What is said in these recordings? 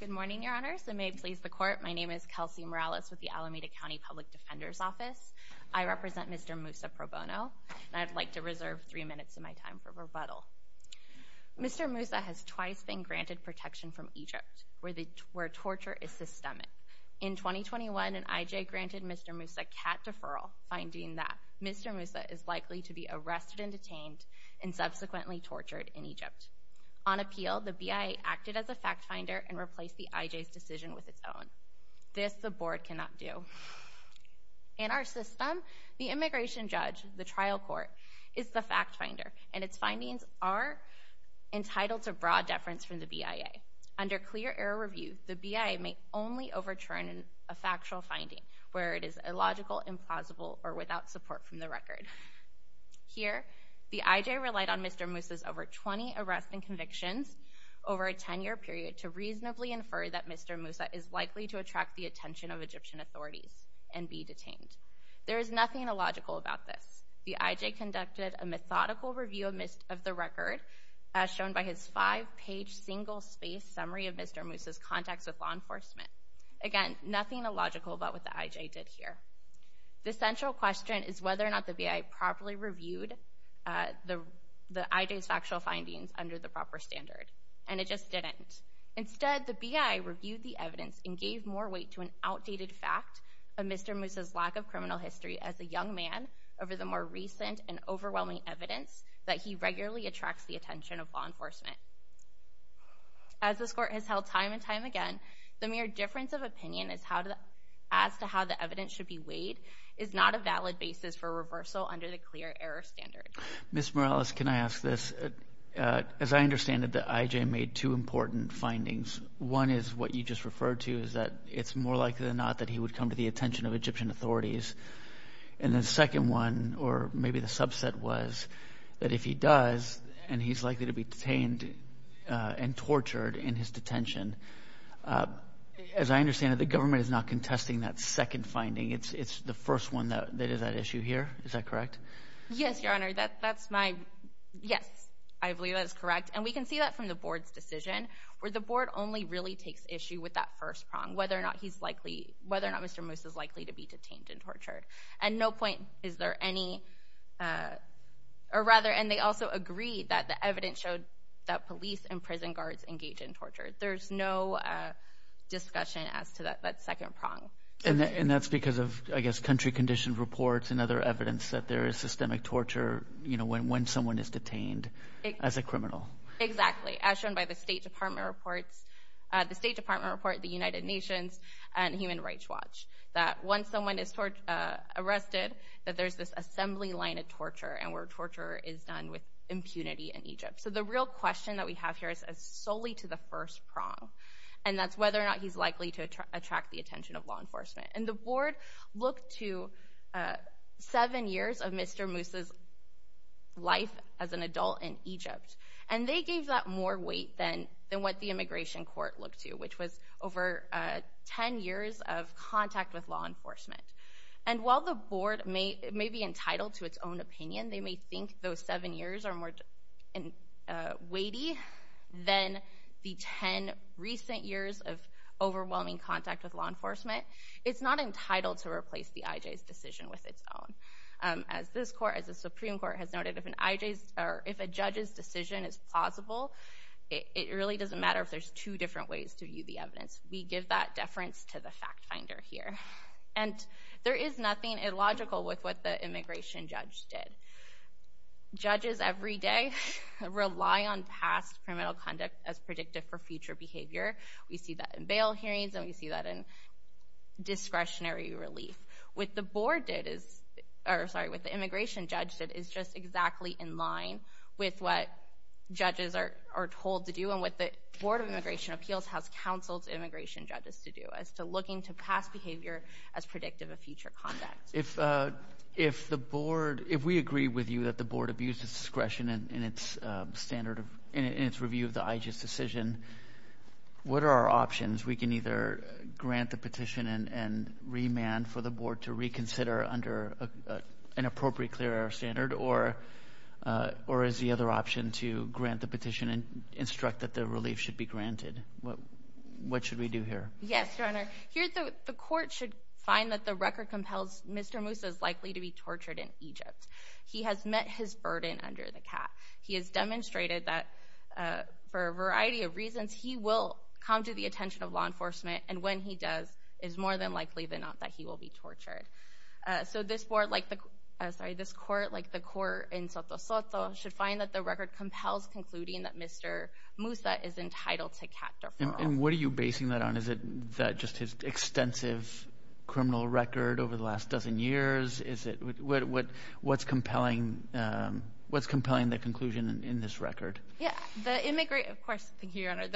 Good morning, Your Honors, and may it please the Court, my name is Kelsey Morales with the Alameda County Public Defender's Office. I represent Mr. Mousa Pro Bono, and I'd like to reserve three minutes of my time for Mr. Mousa has twice been granted protection from Egypt, where torture is systemic. In 2021, an IJ granted Mr. Mousa cat deferral, finding that Mr. Mousa is likely to be arrested and detained and subsequently tortured in Egypt. On appeal, the BIA acted as a fact finder and replaced the IJ's decision with its own. This the Board cannot do. In our system, the immigration judge, the trial court, is the fact finder, and its findings are entitled to broad deference from the BIA. Under clear error review, the BIA may only overturn a factual finding where it is illogical, implausible, or without support from the record. Here, the IJ relied on Mr. Mousa's over 20 arrests and convictions over a 10-year period to reasonably infer that Mr. Mousa is likely to attract the attention of Egyptian authorities and be detained. There is nothing illogical about this. The IJ conducted a methodical review of the record, as shown by his five-page, single-spaced summary of Mr. Mousa's contacts with law enforcement. Again, nothing illogical about what the IJ did here. The central question is whether or not the BIA properly reviewed the IJ's factual findings under the proper standard. And it just didn't. Instead, the BIA reviewed the evidence and gave more weight to an outdated fact of Mr. Mousa as a young man over the more recent and overwhelming evidence that he regularly attracts the attention of law enforcement. As this Court has held time and time again, the mere difference of opinion as to how the evidence should be weighed is not a valid basis for reversal under the clear error standard. Ms. Morales, can I ask this? As I understand it, the IJ made two important findings. One is what you just referred to, is that it's more likely than not that he would come to the attention of Egyptian authorities. And the second one, or maybe the subset was, that if he does, and he's likely to be detained and tortured in his detention, as I understand it, the government is not contesting that second finding. It's the first one that is at issue here. Is that correct? Yes, Your Honor. That's my... Yes. I believe that is correct. And we can see that from the Board's decision, where the Board only really takes issue with that first prong, whether or not he's likely, whether or not Mr. Moose is likely to be detained and tortured. And no point is there any, or rather, and they also agree that the evidence showed that police and prison guards engage in torture. There's no discussion as to that second prong. And that's because of, I guess, country-conditioned reports and other evidence that there is systemic torture when someone is detained as a criminal. Exactly. As shown by the State Department reports, the State Department report, the United Nations, and Human Rights Watch, that once someone is arrested, that there's this assembly line of torture, and where torture is done with impunity in Egypt. So the real question that we have here is solely to the first prong, and that's whether or not he's likely to attract the attention of law enforcement. And the Board looked to seven years of Mr. Moose's life as an adult in Egypt, and they gave that more weight than what the Immigration Court looked to, which was over 10 years of contact with law enforcement. And while the Board may be entitled to its own opinion, they may think those seven years are more weighty than the 10 recent years of overwhelming contact with law enforcement, it's not entitled to replace the IJ's decision with its own. As this Court, as the Supreme Court, has noted, if an IJ's, or if a judge's decision is plausible, it really doesn't matter if there's two different ways to view the evidence. We give that deference to the fact finder here. And there is nothing illogical with what the immigration judge did. Judges every day rely on past criminal conduct as predictive for future behavior. We see that in bail hearings, and we see that in discretionary relief. What the Board did is, or sorry, what the immigration judge did is just exactly in line with what judges are told to do and what the Board of Immigration Appeals has counseled immigration judges to do, as to looking to past behavior as predictive of future conduct. If the Board, if we agree with you that the Board abused its discretion in its review of the IJ's decision, what are our options? We can either grant the petition and remand for the Board to reconsider under an appropriate clear air standard, or is the other option to grant the petition and instruct that the relief should be granted? What should we do here? Yes, Your Honor. Here, the Court should find that the record compels Mr. Moussa is likely to be tortured in Egypt. He has met his burden under the cap. He has demonstrated that, for a variety of reasons, he will come to the attention of law enforcement, and when he does, it is more than likely than not that he will be tortured. So this Court, like the court in Soto Soto, should find that the record compels concluding that Mr. Moussa is entitled to cat deferral. What are you basing that on? Is it just his extensive criminal record over the last dozen years? What's compelling the conclusion in this record? Of course, thank you, Your Honor.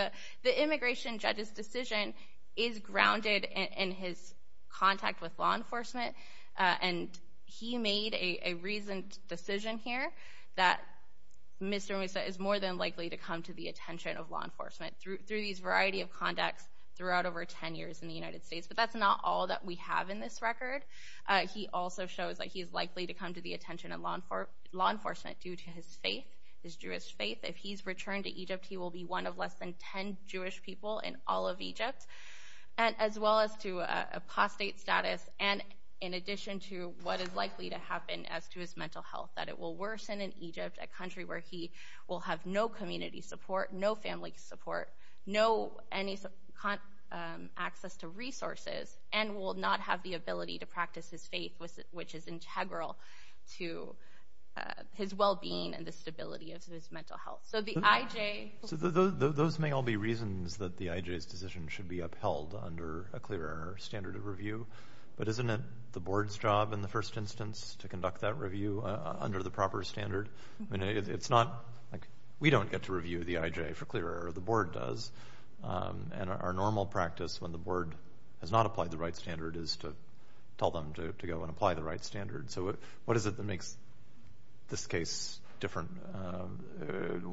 The immigration judge's decision is grounded in his contact with law enforcement, and he made a reasoned decision here that Mr. Moussa is more than likely to come to the attention of law enforcement through these variety of contacts throughout over 10 years in the United States. But that's not all that we have in this record. He also shows that he is likely to come to the attention of law enforcement due to his faith, his Jewish faith. If he's returned to Egypt, he will be one of less than 10 Jewish people in all of Egypt, as well as to apostate status, and in addition to what is likely to happen as to his mental health, that it will worsen in Egypt, a country where he will have no community support, no practice, his faith, which is integral to his well-being and the stability of his mental health. So the IJ... So those may all be reasons that the IJ's decision should be upheld under a clear standard of review. But isn't it the board's job in the first instance to conduct that review under the proper standard? I mean, it's not... We don't get to review the IJ for clear error, the board does, and our normal practice when the board has not applied the right standard is to tell them to go and apply the right standard. So what is it that makes this case different?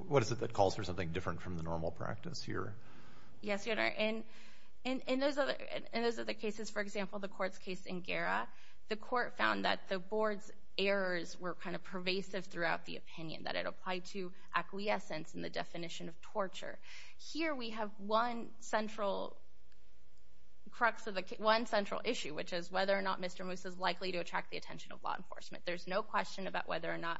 What is it that calls for something different from the normal practice here? Yes, Your Honor, in those other cases, for example, the court's case in Gara, the court found that the board's errors were kind of pervasive throughout the opinion, that it applied to acquiescence in the definition of torture. Here we have one central issue, which is whether or not Mr. Moose is likely to attract the attention of law enforcement. There's no question about whether or not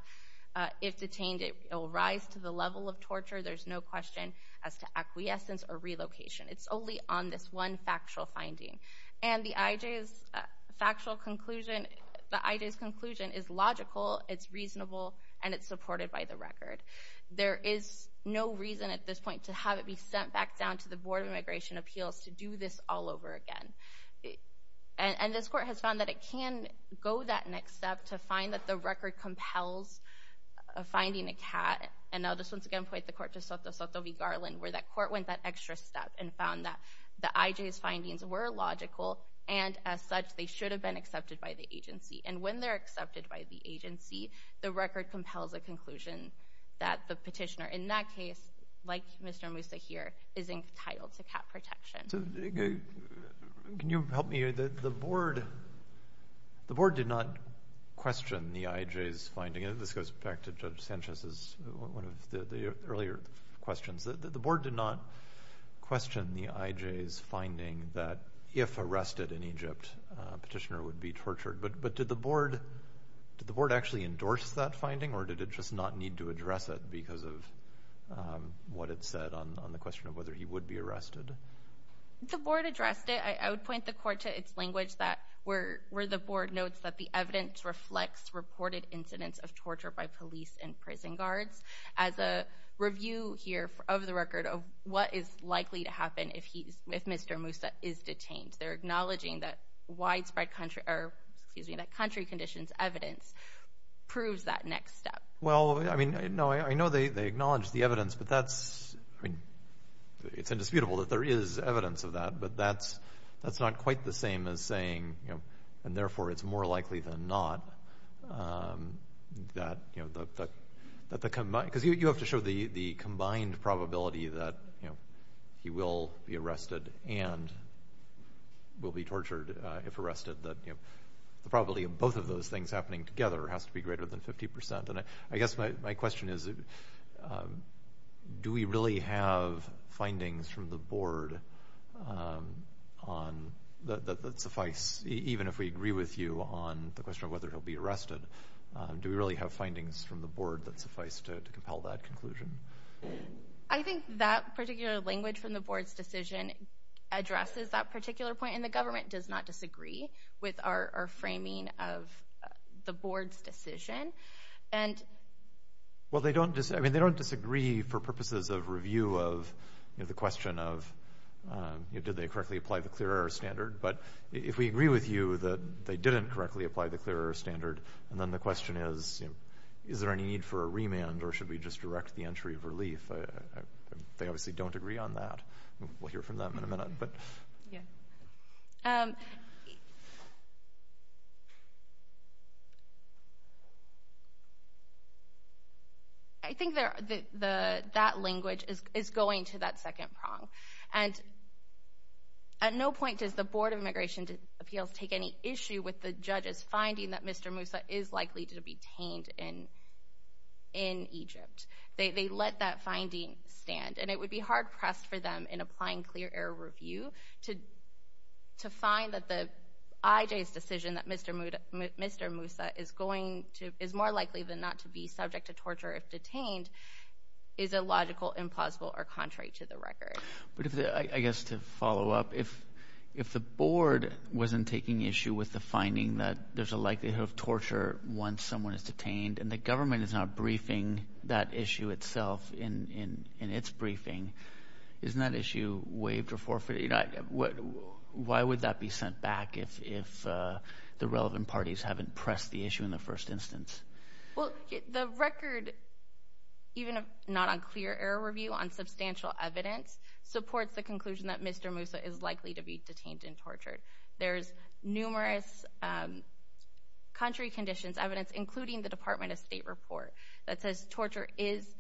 if detained it will rise to the level of torture. There's no question as to acquiescence or relocation. It's only on this one factual finding. And the IJ's factual conclusion, the IJ's conclusion is logical, it's reasonable, and it's supported by the record. There is no reason at this point to have it be sent back down to the Board of Immigration Appeals to do this all over again. And this court has found that it can go that next step to find that the record compels finding a cat. And I'll just once again point the court to Soto Soto v. Garland, where that court went that extra step and found that the IJ's findings were logical, and as such, they should have been accepted by the agency. And when they're accepted by the agency, the record compels a conclusion that the petitioner in that case, like Mr. Moosa here, is entitled to cat protection. So, can you help me here? The Board did not question the IJ's finding, and this goes back to Judge Sanchez's, one of the earlier questions. The Board did not question the IJ's finding that if arrested in Egypt, a petitioner would be tortured. But did the Board actually endorse that finding, or did it just not need to address it because of what it said on the question of whether he would be arrested? The Board addressed it. I would point the court to its language where the Board notes that the evidence reflects reported incidents of torture by police and prison guards as a review here of the record of what is likely to happen if Mr. Moosa is detained. They're acknowledging that widespread country, or excuse me, that country conditions evidence proves that next step. Well, I mean, no, I know they acknowledge the evidence, but that's, I mean, it's indisputable that there is evidence of that, but that's not quite the same as saying, and therefore it's more likely than not that the, because you have to show the combined probability that he will be arrested and will be tortured if arrested, that the probability of both of those things happening together has to be greater than 50%. And I guess my question is, do we really have findings from the Board that suffice, even if we agree with you on the question of whether he'll be arrested, do we really have findings from the Board that suffice to compel that conclusion? I think that particular language from the Board's decision addresses that particular point, and the government does not disagree with our framing of the Board's decision. And – Well, they don't, I mean, they don't disagree for purposes of review of, you know, the question of, you know, did they correctly apply the clear air standard? But if we agree with you that they didn't correctly apply the clear air standard, and then the question is, you know, is there any need for a remand, or should we just direct the entry of relief? They obviously don't agree on that. We'll hear from them in a minute, but – I think that language is going to that second prong. And at no point does the Board of Immigration Appeals take any issue with the judges finding that Mr. Moussa is likely to be detained in Egypt. They let that finding stand, and it would be hard-pressed for them, in applying clear air review, to find that the – IJ's decision that Mr. Moussa is going to – is more likely than not to be subject to torture if detained is illogical, implausible, or contrary to the record. But if the – I guess to follow up, if the Board wasn't taking issue with the finding that there's a likelihood of torture once someone is detained, and the government is not briefing that issue itself in its briefing, isn't that issue waived or forfeited? Why would that be sent back if the relevant parties haven't pressed the issue in the first instance? Well, the record, even not on clear air review, on substantial evidence, supports the conclusion that Mr. Moussa is likely to be detained and tortured. There's numerous contrary conditions, evidence, including the Department of State report that says torture is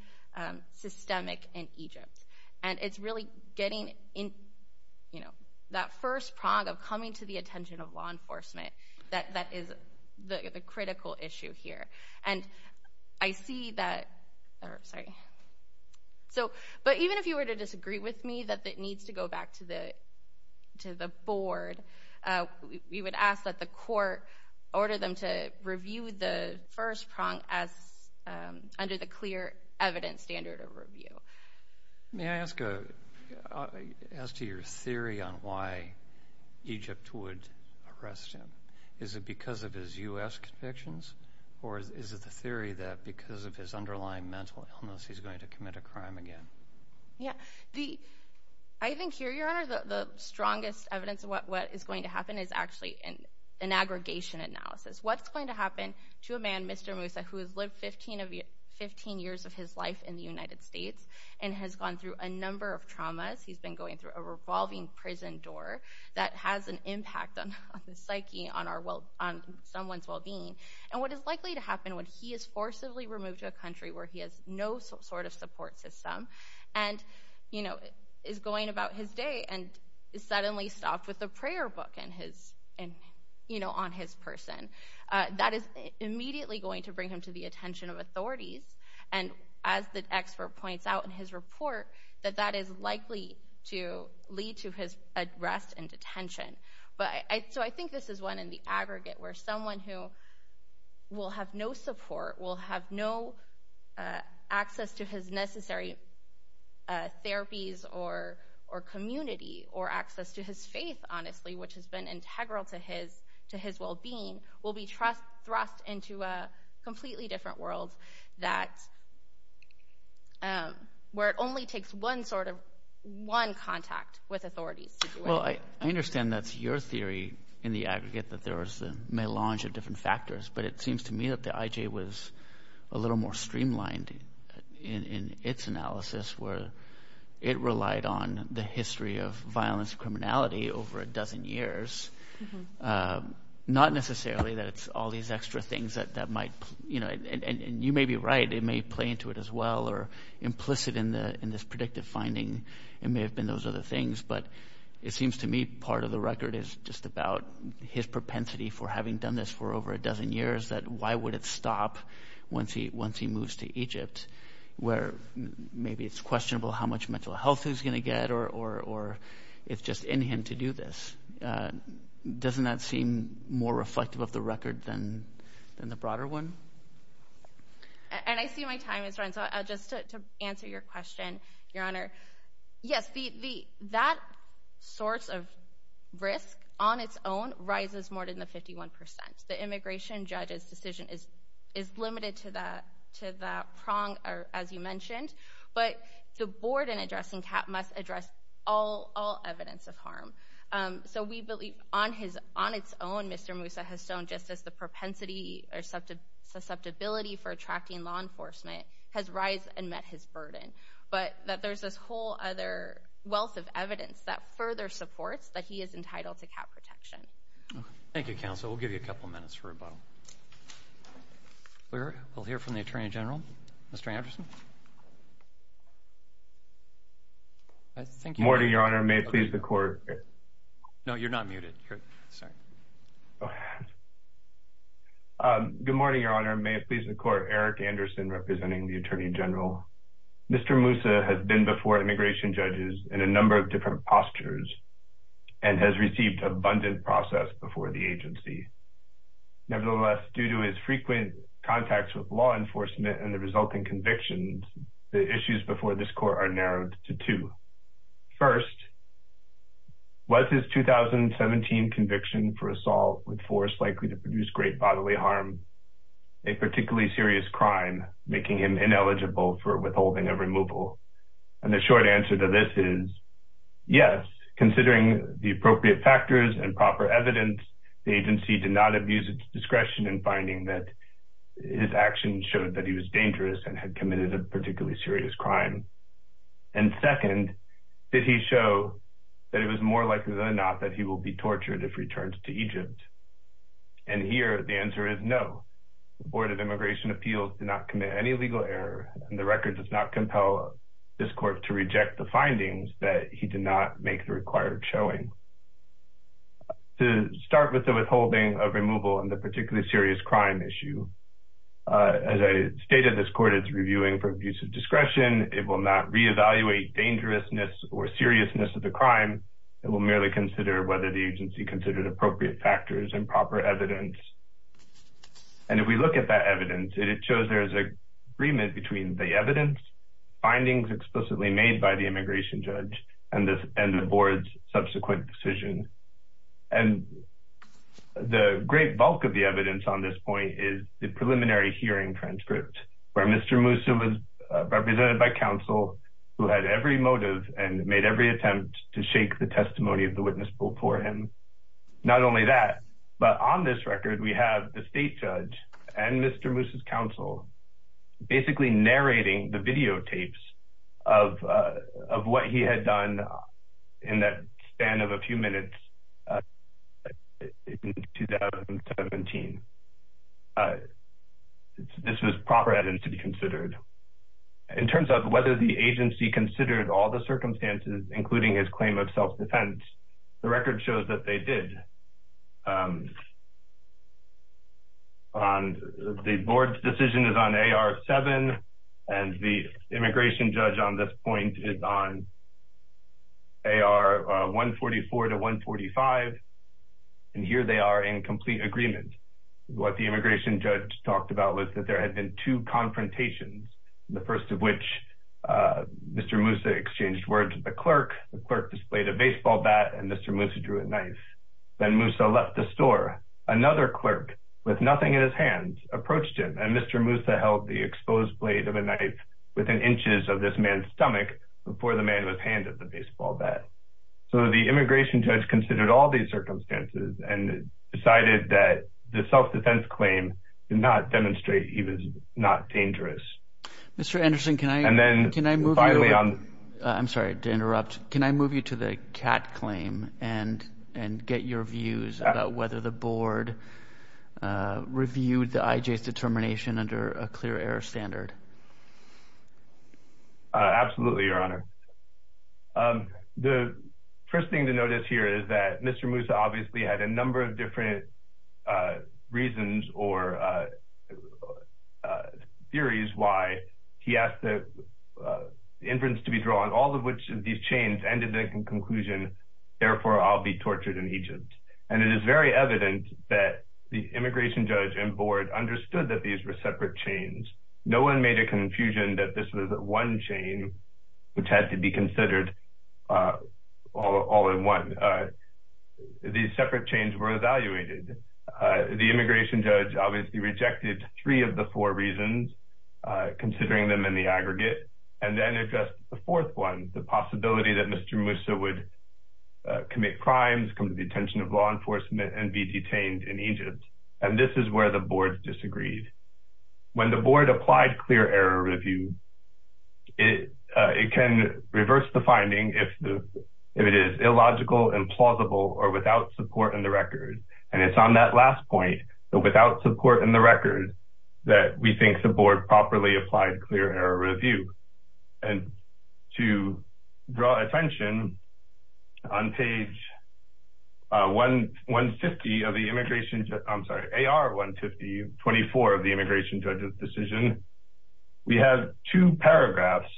systemic in Egypt. And it's really getting in – you know, that first prong of coming to the attention of law enforcement that is the critical issue here. And I see that – or, sorry – so, but even if you were to disagree with me that it needs to go back to the Board, we would ask that the court order them to review the first prong as – under the clear evidence standard of review. May I ask a – as to your theory on why Egypt would arrest him. Is it because of his U.S. convictions? Or is it the theory that because of his underlying mental illness, he's going to commit a crime again? Yeah. The – I think here, Your Honor, the strongest evidence of what is going to happen is actually an aggregation analysis. What's going to happen to a man, Mr. Moussa, who has lived 15 years of his life in the United States and has gone through a number of traumas – he's been going through a revolving prison door that has an impact on the psyche, on our – on someone's well-being. And what is likely to happen when he is forcibly removed to a country where he has no sort of support system and, you know, is going about his day and is suddenly stopped with a prayer book in his – and, you know, on his person, that is immediately going to bring him to the attention of authorities. And as the expert points out in his report, that that is likely to lead to his arrest and detention. But I – so I think this is one in the aggregate where someone who will have no support, will have no access to his necessary therapies or community or access to his faith, honestly, which has been integral to his – to his well-being, will be thrust into a completely different world that – where it only takes one sort of – one contact with authorities to do it. Well, I understand that's your theory in the aggregate, that there is a melange of different factors. But it seems to me that the IJ was a little more streamlined in its analysis, where it relied on the history of violence and criminality over a dozen years. Not necessarily that it's all these extra things that might – you know, and you may be right, it may play into it as well or implicit in the – in this predictive finding. It may have been those other things. But it seems to me part of the record is just about his propensity for having done this for over a dozen years, that why would it stop once he – once he moves to Egypt, where maybe it's questionable how much mental health he's going to get or it's just in him to do this. Doesn't that seem more reflective of the record than the broader one? And I see my time is running. So just to answer your question, Your Honor, yes, the – that source of risk on its own rises more than the 51 percent. The immigration judge's decision is limited to that – to that prong, as you mentioned. But the board in addressing CAP must address all evidence of harm. So we believe on his – on its own, Mr. Moussa has shown just as the propensity or susceptibility for attracting law enforcement has rised and met his burden, but that there's this whole other wealth of evidence that further supports that he is entitled to CAP protection. Thank you, Counsel. We'll give you a couple minutes for rebuttal. We'll hear from the Attorney General, Mr. Anderson. I think – Good morning, Your Honor. May it please the Court – no, you're not muted, you're – sorry. Good morning, Your Honor. May it please the Court. Eric Anderson representing the Attorney General. Mr. Moussa has been before immigration judges in a number of different postures and has received abundant process before the agency. Nevertheless, due to his frequent contacts with law enforcement and the resulting convictions, the issues before this Court are narrowed to two. First, was his 2017 conviction for assault with force likely to produce great bodily harm, a particularly serious crime, making him ineligible for withholding of removal? And the short answer to this is yes, considering the appropriate factors and proper evidence, the agency did not abuse its discretion in finding that his actions showed that he was dangerous and had committed a particularly serious crime. And second, did he show that it was more likely than not that he will be tortured if returned to Egypt? And here, the answer is no. The Board of Immigration Appeals did not commit any legal error and the record does not compel this Court to reject the findings that he did not make the required showing. To start with the withholding of removal and the particularly serious crime issue, as I stated, this Court is reviewing for abuse of discretion. It will not reevaluate dangerousness or seriousness of the crime. It will merely consider whether the agency considered appropriate factors and proper evidence. And if we look at that evidence, it shows there is agreement between the evidence, findings explicitly made by the immigration judge, and the Board's subsequent decision. And the great bulk of the evidence on this point is the preliminary hearing transcript where Mr. Moussa was represented by counsel who had every motive and made every attempt to shake the testimony of the witness before him. Not only that, but on this record, we have the state judge and Mr. Moussa's counsel basically narrating the videotapes of what he had done in that span of a few minutes in 2017. In terms of whether the agency considered all the circumstances, including his claim of self-defense, the record shows that they did. The Board's decision is on AR-7, and the immigration judge on this point is on AR-144-145. And here they are in complete agreement. What the immigration judge talked about was that there had been two confrontations, the first of which Mr. Moussa exchanged words with the clerk, the clerk displayed a baseball bat, and Mr. Moussa drew a knife. Then Moussa left the store. Another clerk, with nothing in his hands, approached him, and Mr. Moussa held the exposed blade of a knife within inches of this man's stomach before the man was handed the baseball bat. So the immigration judge considered all these circumstances and decided that the self-defense claim did not demonstrate he was not dangerous. And then, finally, on... I'm sorry to interrupt. Can I move you to the C.A.T. claim and get your views about whether the Board reviewed the I.J.'s determination under a clear error standard? Absolutely, Your Honor. The first thing to notice here is that Mr. Moussa obviously had a number of different reasons or theories why he asked the inference to be drawn, all of which these chains ended in a conclusion, therefore, I'll be tortured in Egypt. And it is very evident that the immigration judge and Board understood that these were separate chains. No one made a confusion that this was one chain which had to be considered all in one. These separate chains were evaluated. The immigration judge obviously rejected three of the four reasons, considering them in the aggregate, and then addressed the fourth one, the possibility that Mr. Moussa would commit crimes, come to the attention of law enforcement, and be detained in Egypt. And this is where the Board disagreed. When the Board applied clear error review, it can reverse the finding if it is illogical and plausible or without support in the record. And it's on that last point, without support in the record, that we think the Board properly applied clear error review. And to draw attention, on page AR-150-24 of the immigration judge's decision, we have two paragraphs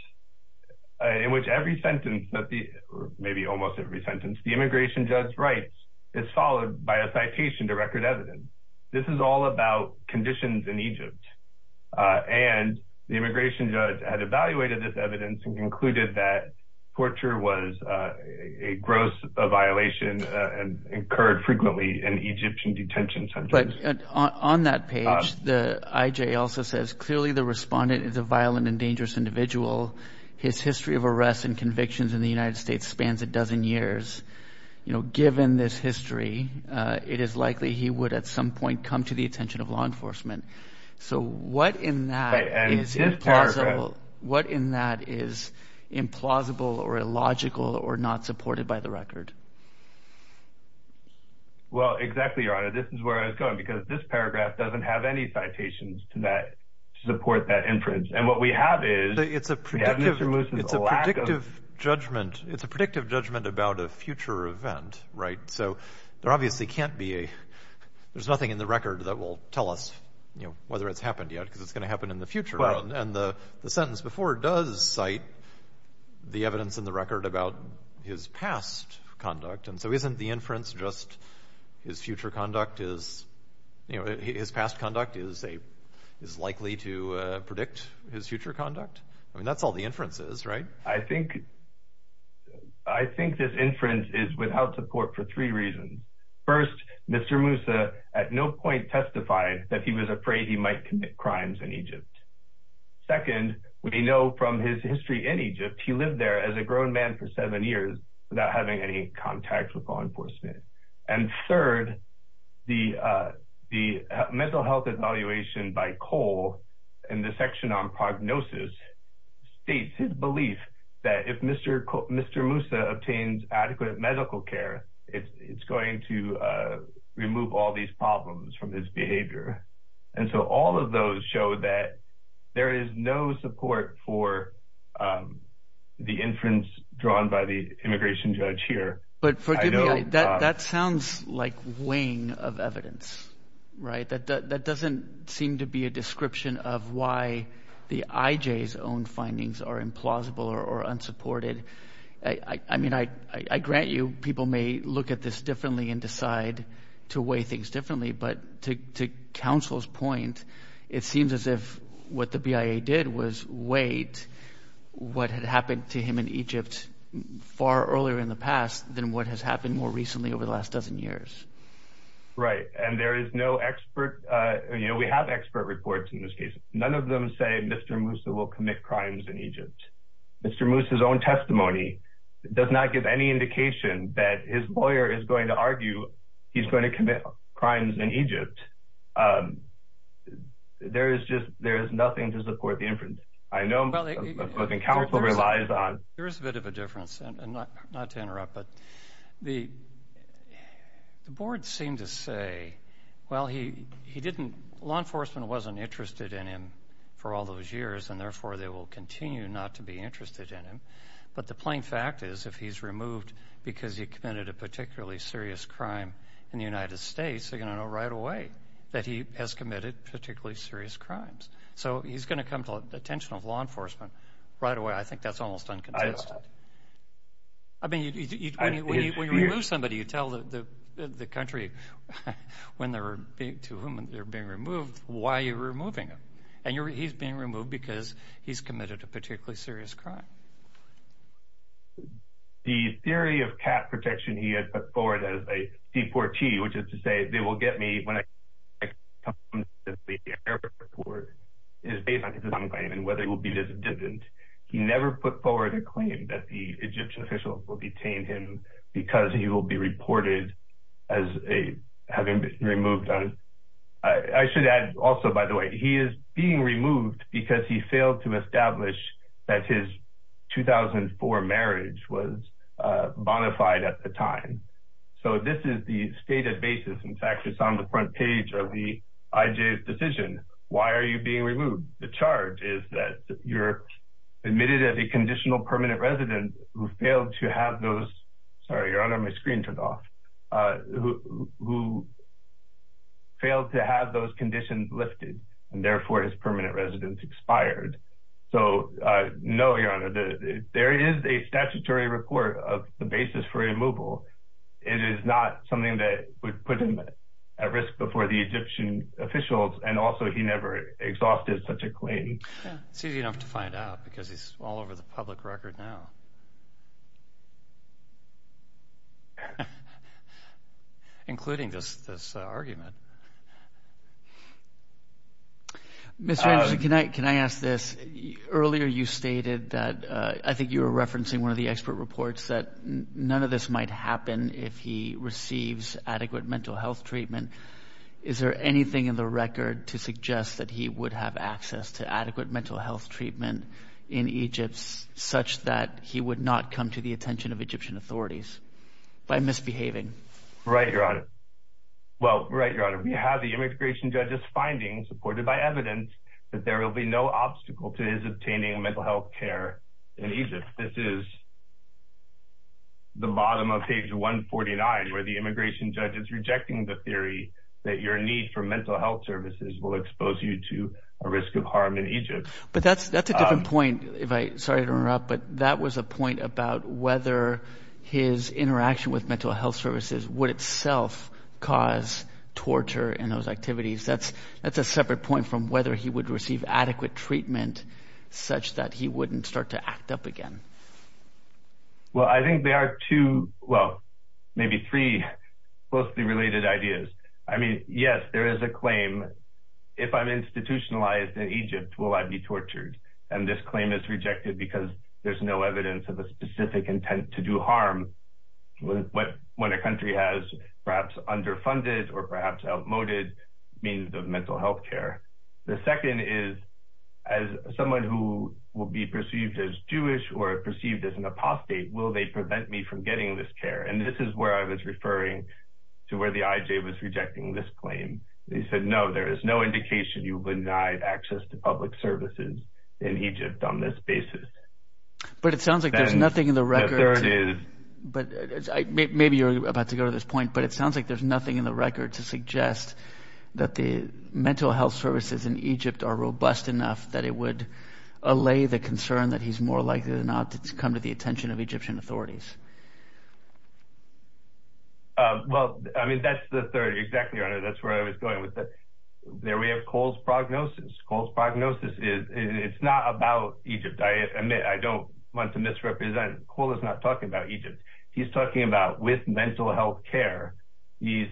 in which every sentence, maybe almost every sentence, the immigration judge writes is followed by a citation to record evidence. This is all about conditions in Egypt. And the immigration judge had evaluated this evidence and concluded that torture was a gross violation and occurred frequently in Egyptian detention centers. But on that page, the IJ also says, clearly the respondent is a violent and dangerous individual. His history of arrests and convictions in the United States spans a dozen years. You know, given this history, it is likely he would at some point come to the attention of law enforcement. So what in that is implausible, what in that is implausible or illogical or not supported by the record? Well, exactly, Your Honor, this is where I was going, because this paragraph doesn't have any citations to that, to support that inference. And what we have is, it's a predictive, it's a predictive judgment. It's a predictive judgment about a future event, right? So there obviously can't be a, there's nothing in the record that will tell us, you know, whether it's happened yet, because it's going to happen in the future. And the sentence before does cite the evidence in the record about his past conduct. And so isn't the inference just his future conduct is, you know, his past conduct is a, is likely to predict his future conduct? I mean, that's all the inference is, right? I think, I think this inference is without support for three reasons. First, Mr. Moussa at no point testified that he was afraid he might commit crimes in Egypt. Second, we know from his history in Egypt, he lived there as a grown man for seven years without having any contact with law enforcement. And third, the mental health evaluation by Cole in the section on prognosis states his belief that if Mr. Moussa obtains adequate medical care, it's going to remove all these problems from his behavior. And so all of those show that there is no support for the inference drawn by the immigration judge here. But forgive me, that sounds like weighing of evidence, right? That doesn't seem to be a description of why the IJ's own findings are implausible or unsupported. I mean, I grant you people may look at this differently and decide to weigh things differently. But to counsel's point, it seems as if what the BIA did was weight what had happened to him in Egypt far earlier in the past than what has happened more recently over the last dozen years. Right. And there is no expert. We have expert reports in this case. None of them say Mr. Moussa will commit crimes in Egypt. Mr. Moussa's own testimony does not give any indication that his lawyer is going to argue he's going to commit crimes in Egypt. There is just there is nothing to support the inference. I know the counsel relies on. There is a bit of a difference, and not to interrupt, but the board seemed to say, well, he didn't law enforcement wasn't interested in him for all those years, and therefore they will continue not to be interested in him. But the plain fact is if he's removed because he committed a particularly serious crime in the United States, they're going to know right away that he has committed particularly serious crimes. So he's going to come to the attention of law enforcement right away. And I think that's almost unconsistent. I mean, when you remove somebody, you tell the country to whom they're being removed why you're removing them. And he's being removed because he's committed a particularly serious crime. The theory of cat protection he had put forward as a C4T, which is to say they will get me when I come to the airport is based on his own claim and whether he will be disadvantaged. He never put forward a claim that the Egyptian officials will detain him because he will be reported as having been removed. I should add also, by the way, he is being removed because he failed to establish that his 2004 marriage was bonafide at the time. So this is the stated basis. In fact, it's on the front page of the IJ's decision. Why are you being removed? The charge is that you're admitted as a conditional permanent resident who failed to have those — sorry, your honor, my screen turned off — who failed to have those conditions lifted and therefore his permanent residence expired. So no, your honor, there is a statutory report of the basis for removal. It is not something that would put him at risk before the Egyptian officials. And also, he never exhausted such a claim. It's easy enough to find out because he's all over the public record now. Including this argument. Mr. Anderson, can I ask this? Earlier you stated that — I think you were referencing one of the expert reports — that none of this might happen if he receives adequate mental health treatment. Is there anything in the record to suggest that he would have access to adequate mental health treatment in Egypt such that he would not come to the attention of Egyptian authorities by misbehaving? Right, your honor. Well, right, your honor. We have the immigration judge's findings supported by evidence that there will be no obstacle to his obtaining mental health care in Egypt. But this is the bottom of page 149 where the immigration judge is rejecting the theory that your need for mental health services will expose you to a risk of harm in Egypt. But that's a different point, sorry to interrupt, but that was a point about whether his interaction with mental health services would itself cause torture in those activities. That's a separate point from whether he would receive adequate treatment such that he wouldn't start to act up again. Well, I think there are two — well, maybe three — closely related ideas. I mean, yes, there is a claim, if I'm institutionalized in Egypt, will I be tortured? And this claim is rejected because there's no evidence of a specific intent to do harm when a country has perhaps underfunded or perhaps outmoded means of mental health care. The second is, as someone who will be perceived as Jewish or perceived as an apostate, will they prevent me from getting this care? And this is where I was referring to where the IJ was rejecting this claim. They said, no, there is no indication you would not have access to public services in Egypt on this basis. But it sounds like there's nothing in the record. Maybe you're about to go to this point, but it sounds like there's nothing in the record to suggest that the mental health services in Egypt are robust enough that it would allay the concern that he's more likely than not to come to the attention of Egyptian authorities. Well, I mean, that's the third. Exactly, Your Honor. That's where I was going with that. There we have Cole's prognosis. Cole's prognosis is — it's not about Egypt. I admit, I don't want to misrepresent. Cole is not talking about Egypt. He's talking about with mental health care, these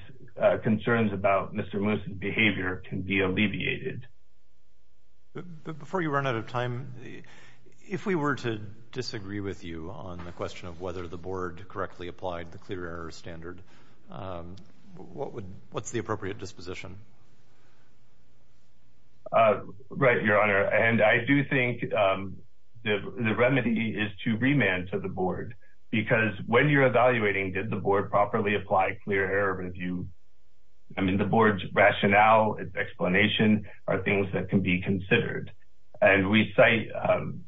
concerns about Mr. Moose's behavior can be alleviated. Before you run out of time, if we were to disagree with you on the question of whether the board correctly applied the clear error standard, what's the appropriate disposition? Right, Your Honor. I do think the remedy is to remand to the board, because when you're evaluating did the board properly apply clear error review, I mean, the board's rationale, its explanation are things that can be considered. And we cite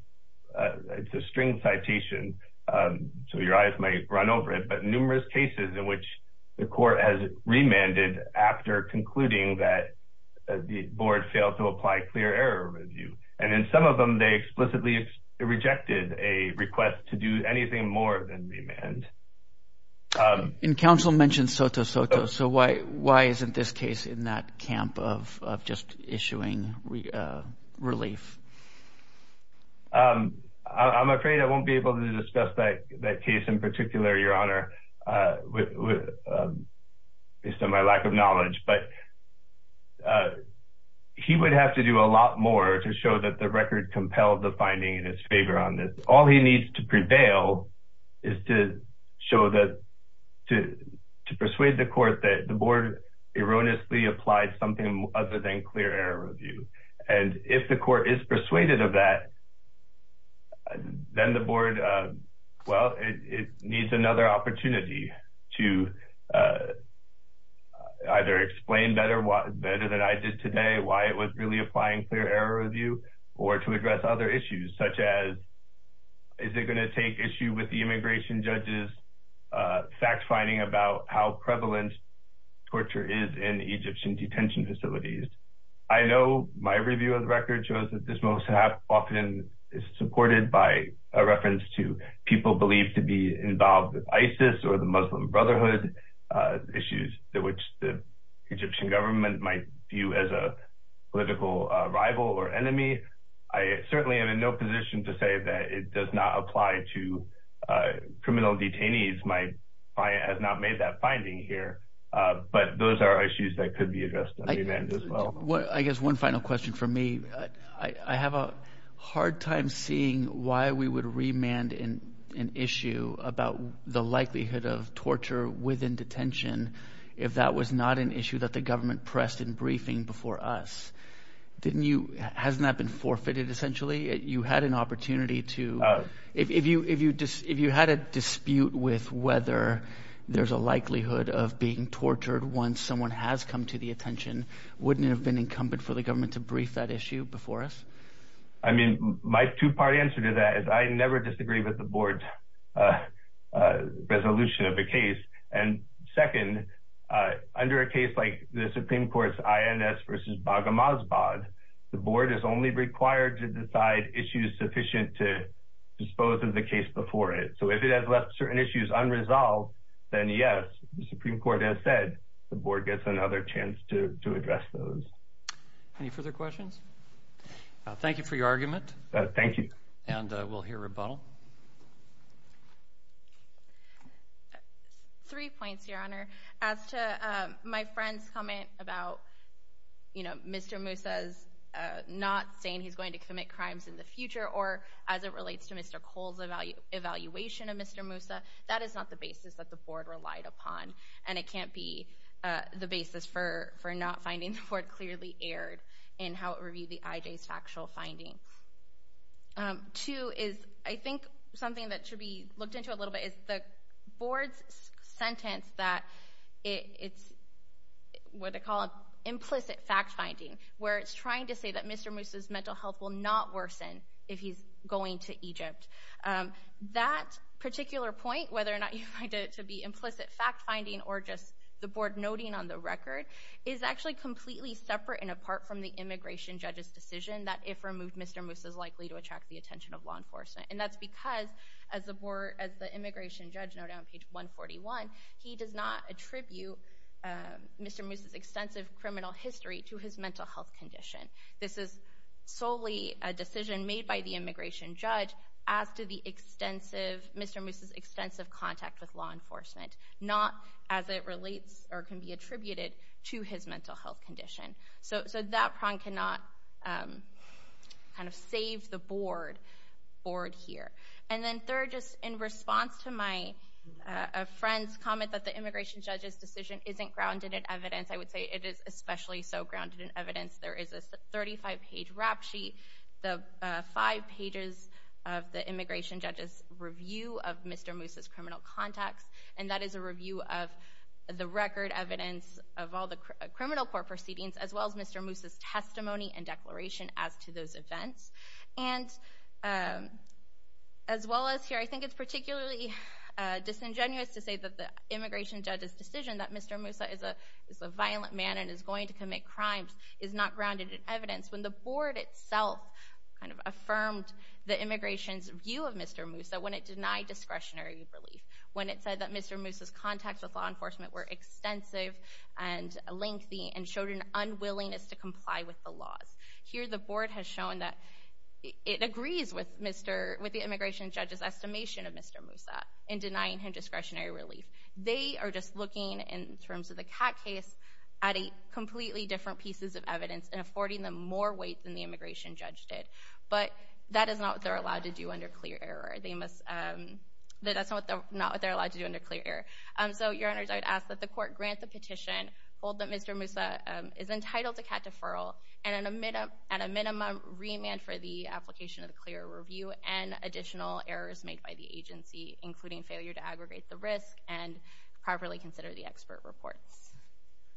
— it's a string citation, so your eyes might run over it, but numerous cases in which the court has remanded after concluding that the board failed to apply clear error review. And in some of them, they explicitly rejected a request to do anything more than remand. And counsel mentioned Soto Soto, so why isn't this case in that camp of just issuing relief? I'm afraid I won't be able to discuss that case in particular, Your Honor, based on my to do a lot more to show that the record compelled the finding in his favor on this. All he needs to prevail is to show that — to persuade the court that the board erroneously applied something other than clear error review. And if the court is persuaded of that, then the board, well, it needs another opportunity to either explain better than I did today why it was really applying clear error review or to address other issues, such as is it going to take issue with the immigration judge's fact-finding about how prevalent torture is in Egyptian detention facilities. I know my review of the record shows that this most often is supported by a reference to people believed to be involved with ISIS or the Muslim Brotherhood, issues that which the Egyptian government might view as a political rival or enemy. I certainly am in no position to say that it does not apply to criminal detainees. My client has not made that finding here. But those are issues that could be addressed on remand as well. I guess one final question for me. I have a hard time seeing why we would remand an issue about the likelihood of torture within detention if that was not an issue that the government pressed in briefing before us. Didn't you — hasn't that been forfeited, essentially? You had an opportunity to — if you had a dispute with whether there's a likelihood of being tortured once someone has come to the attention, wouldn't it have been incumbent for the government to brief that issue before us? I mean, my two-part answer to that is I never disagree with the board's resolution of the case. And second, under a case like the Supreme Court's INS versus Baghamasbad, the board is only required to decide issues sufficient to dispose of the case before it. If it has left certain issues unresolved, then yes, the Supreme Court has said the board gets another chance to address those. Any further questions? Thank you for your argument. Thank you. And we'll hear rebuttal. Three points, Your Honor. As to my friend's comment about Mr. Musa's not saying he's going to commit crimes in the future, or as it relates to Mr. Cole's evaluation of Mr. Musa, that is not the basis that the board relied upon. And it can't be the basis for not finding the board clearly erred in how it reviewed the IJ's factual finding. Two is I think something that should be looked into a little bit is the board's sentence that it's what they call implicit fact-finding, where it's trying to say that Mr. Musa's mental health will not worsen if he's going to Egypt. That particular point, whether or not you find it to be implicit fact-finding or just the board noting on the record, is actually completely separate and apart from the immigration judge's decision that if removed, Mr. Musa is likely to attract the attention of law enforcement. And that's because, as the board, as the immigration judge noted on page 141, he does not attribute Mr. Musa's extensive criminal history to his mental health condition. This is solely a decision made by the immigration judge as to Mr. Musa's extensive contact with law enforcement, not as it relates or can be attributed to his mental health condition. So that prong cannot kind of save the board here. And then third, just in response to my friend's comment that the immigration judge's decision isn't grounded in evidence, I would say it is especially so grounded in evidence. There is a 35-page rap sheet, the five pages of the immigration judge's review of Mr. Musa's criminal contacts, and that is a review of the record evidence of all the criminal court proceedings as well as Mr. Musa's testimony and declaration as to those events. And as well as here, I think it's particularly disingenuous to say that the immigration judge's is not grounded in evidence when the board itself kind of affirmed the immigration's view of Mr. Musa when it denied discretionary relief, when it said that Mr. Musa's contacts with law enforcement were extensive and lengthy and showed an unwillingness to comply with the laws. Here, the board has shown that it agrees with the immigration judge's estimation of Mr. Musa in denying him discretionary relief. They are just looking, in terms of the Catt case, at completely different pieces of evidence and affording them more weight than the immigration judge did. But that is not what they're allowed to do under clear error. They must—that's not what they're allowed to do under clear error. So, Your Honors, I would ask that the court grant the petition, hold that Mr. Musa is entitled to Catt deferral, and at a minimum, remand for the application of the clear review and additional errors made by the agency, including failure to aggregate the risk and properly consider the expert reports.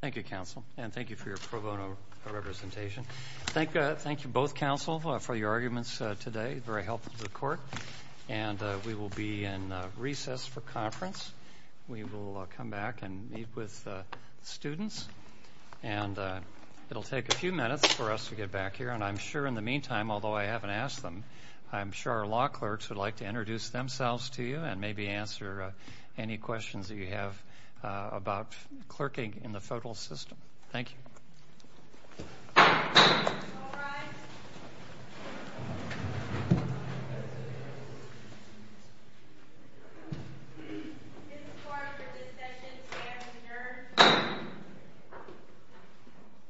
Thank you, counsel. And thank you for your pro bono representation. Thank you both, counsel, for your arguments today. Very helpful to the court. And we will be in recess for conference. We will come back and meet with the students. And it'll take a few minutes for us to get back here. And I'm sure in the meantime, although I haven't asked them, I'm sure our law clerks would like to introduce themselves to you and maybe answer any questions that you have about clerking in the federal system. Thank you.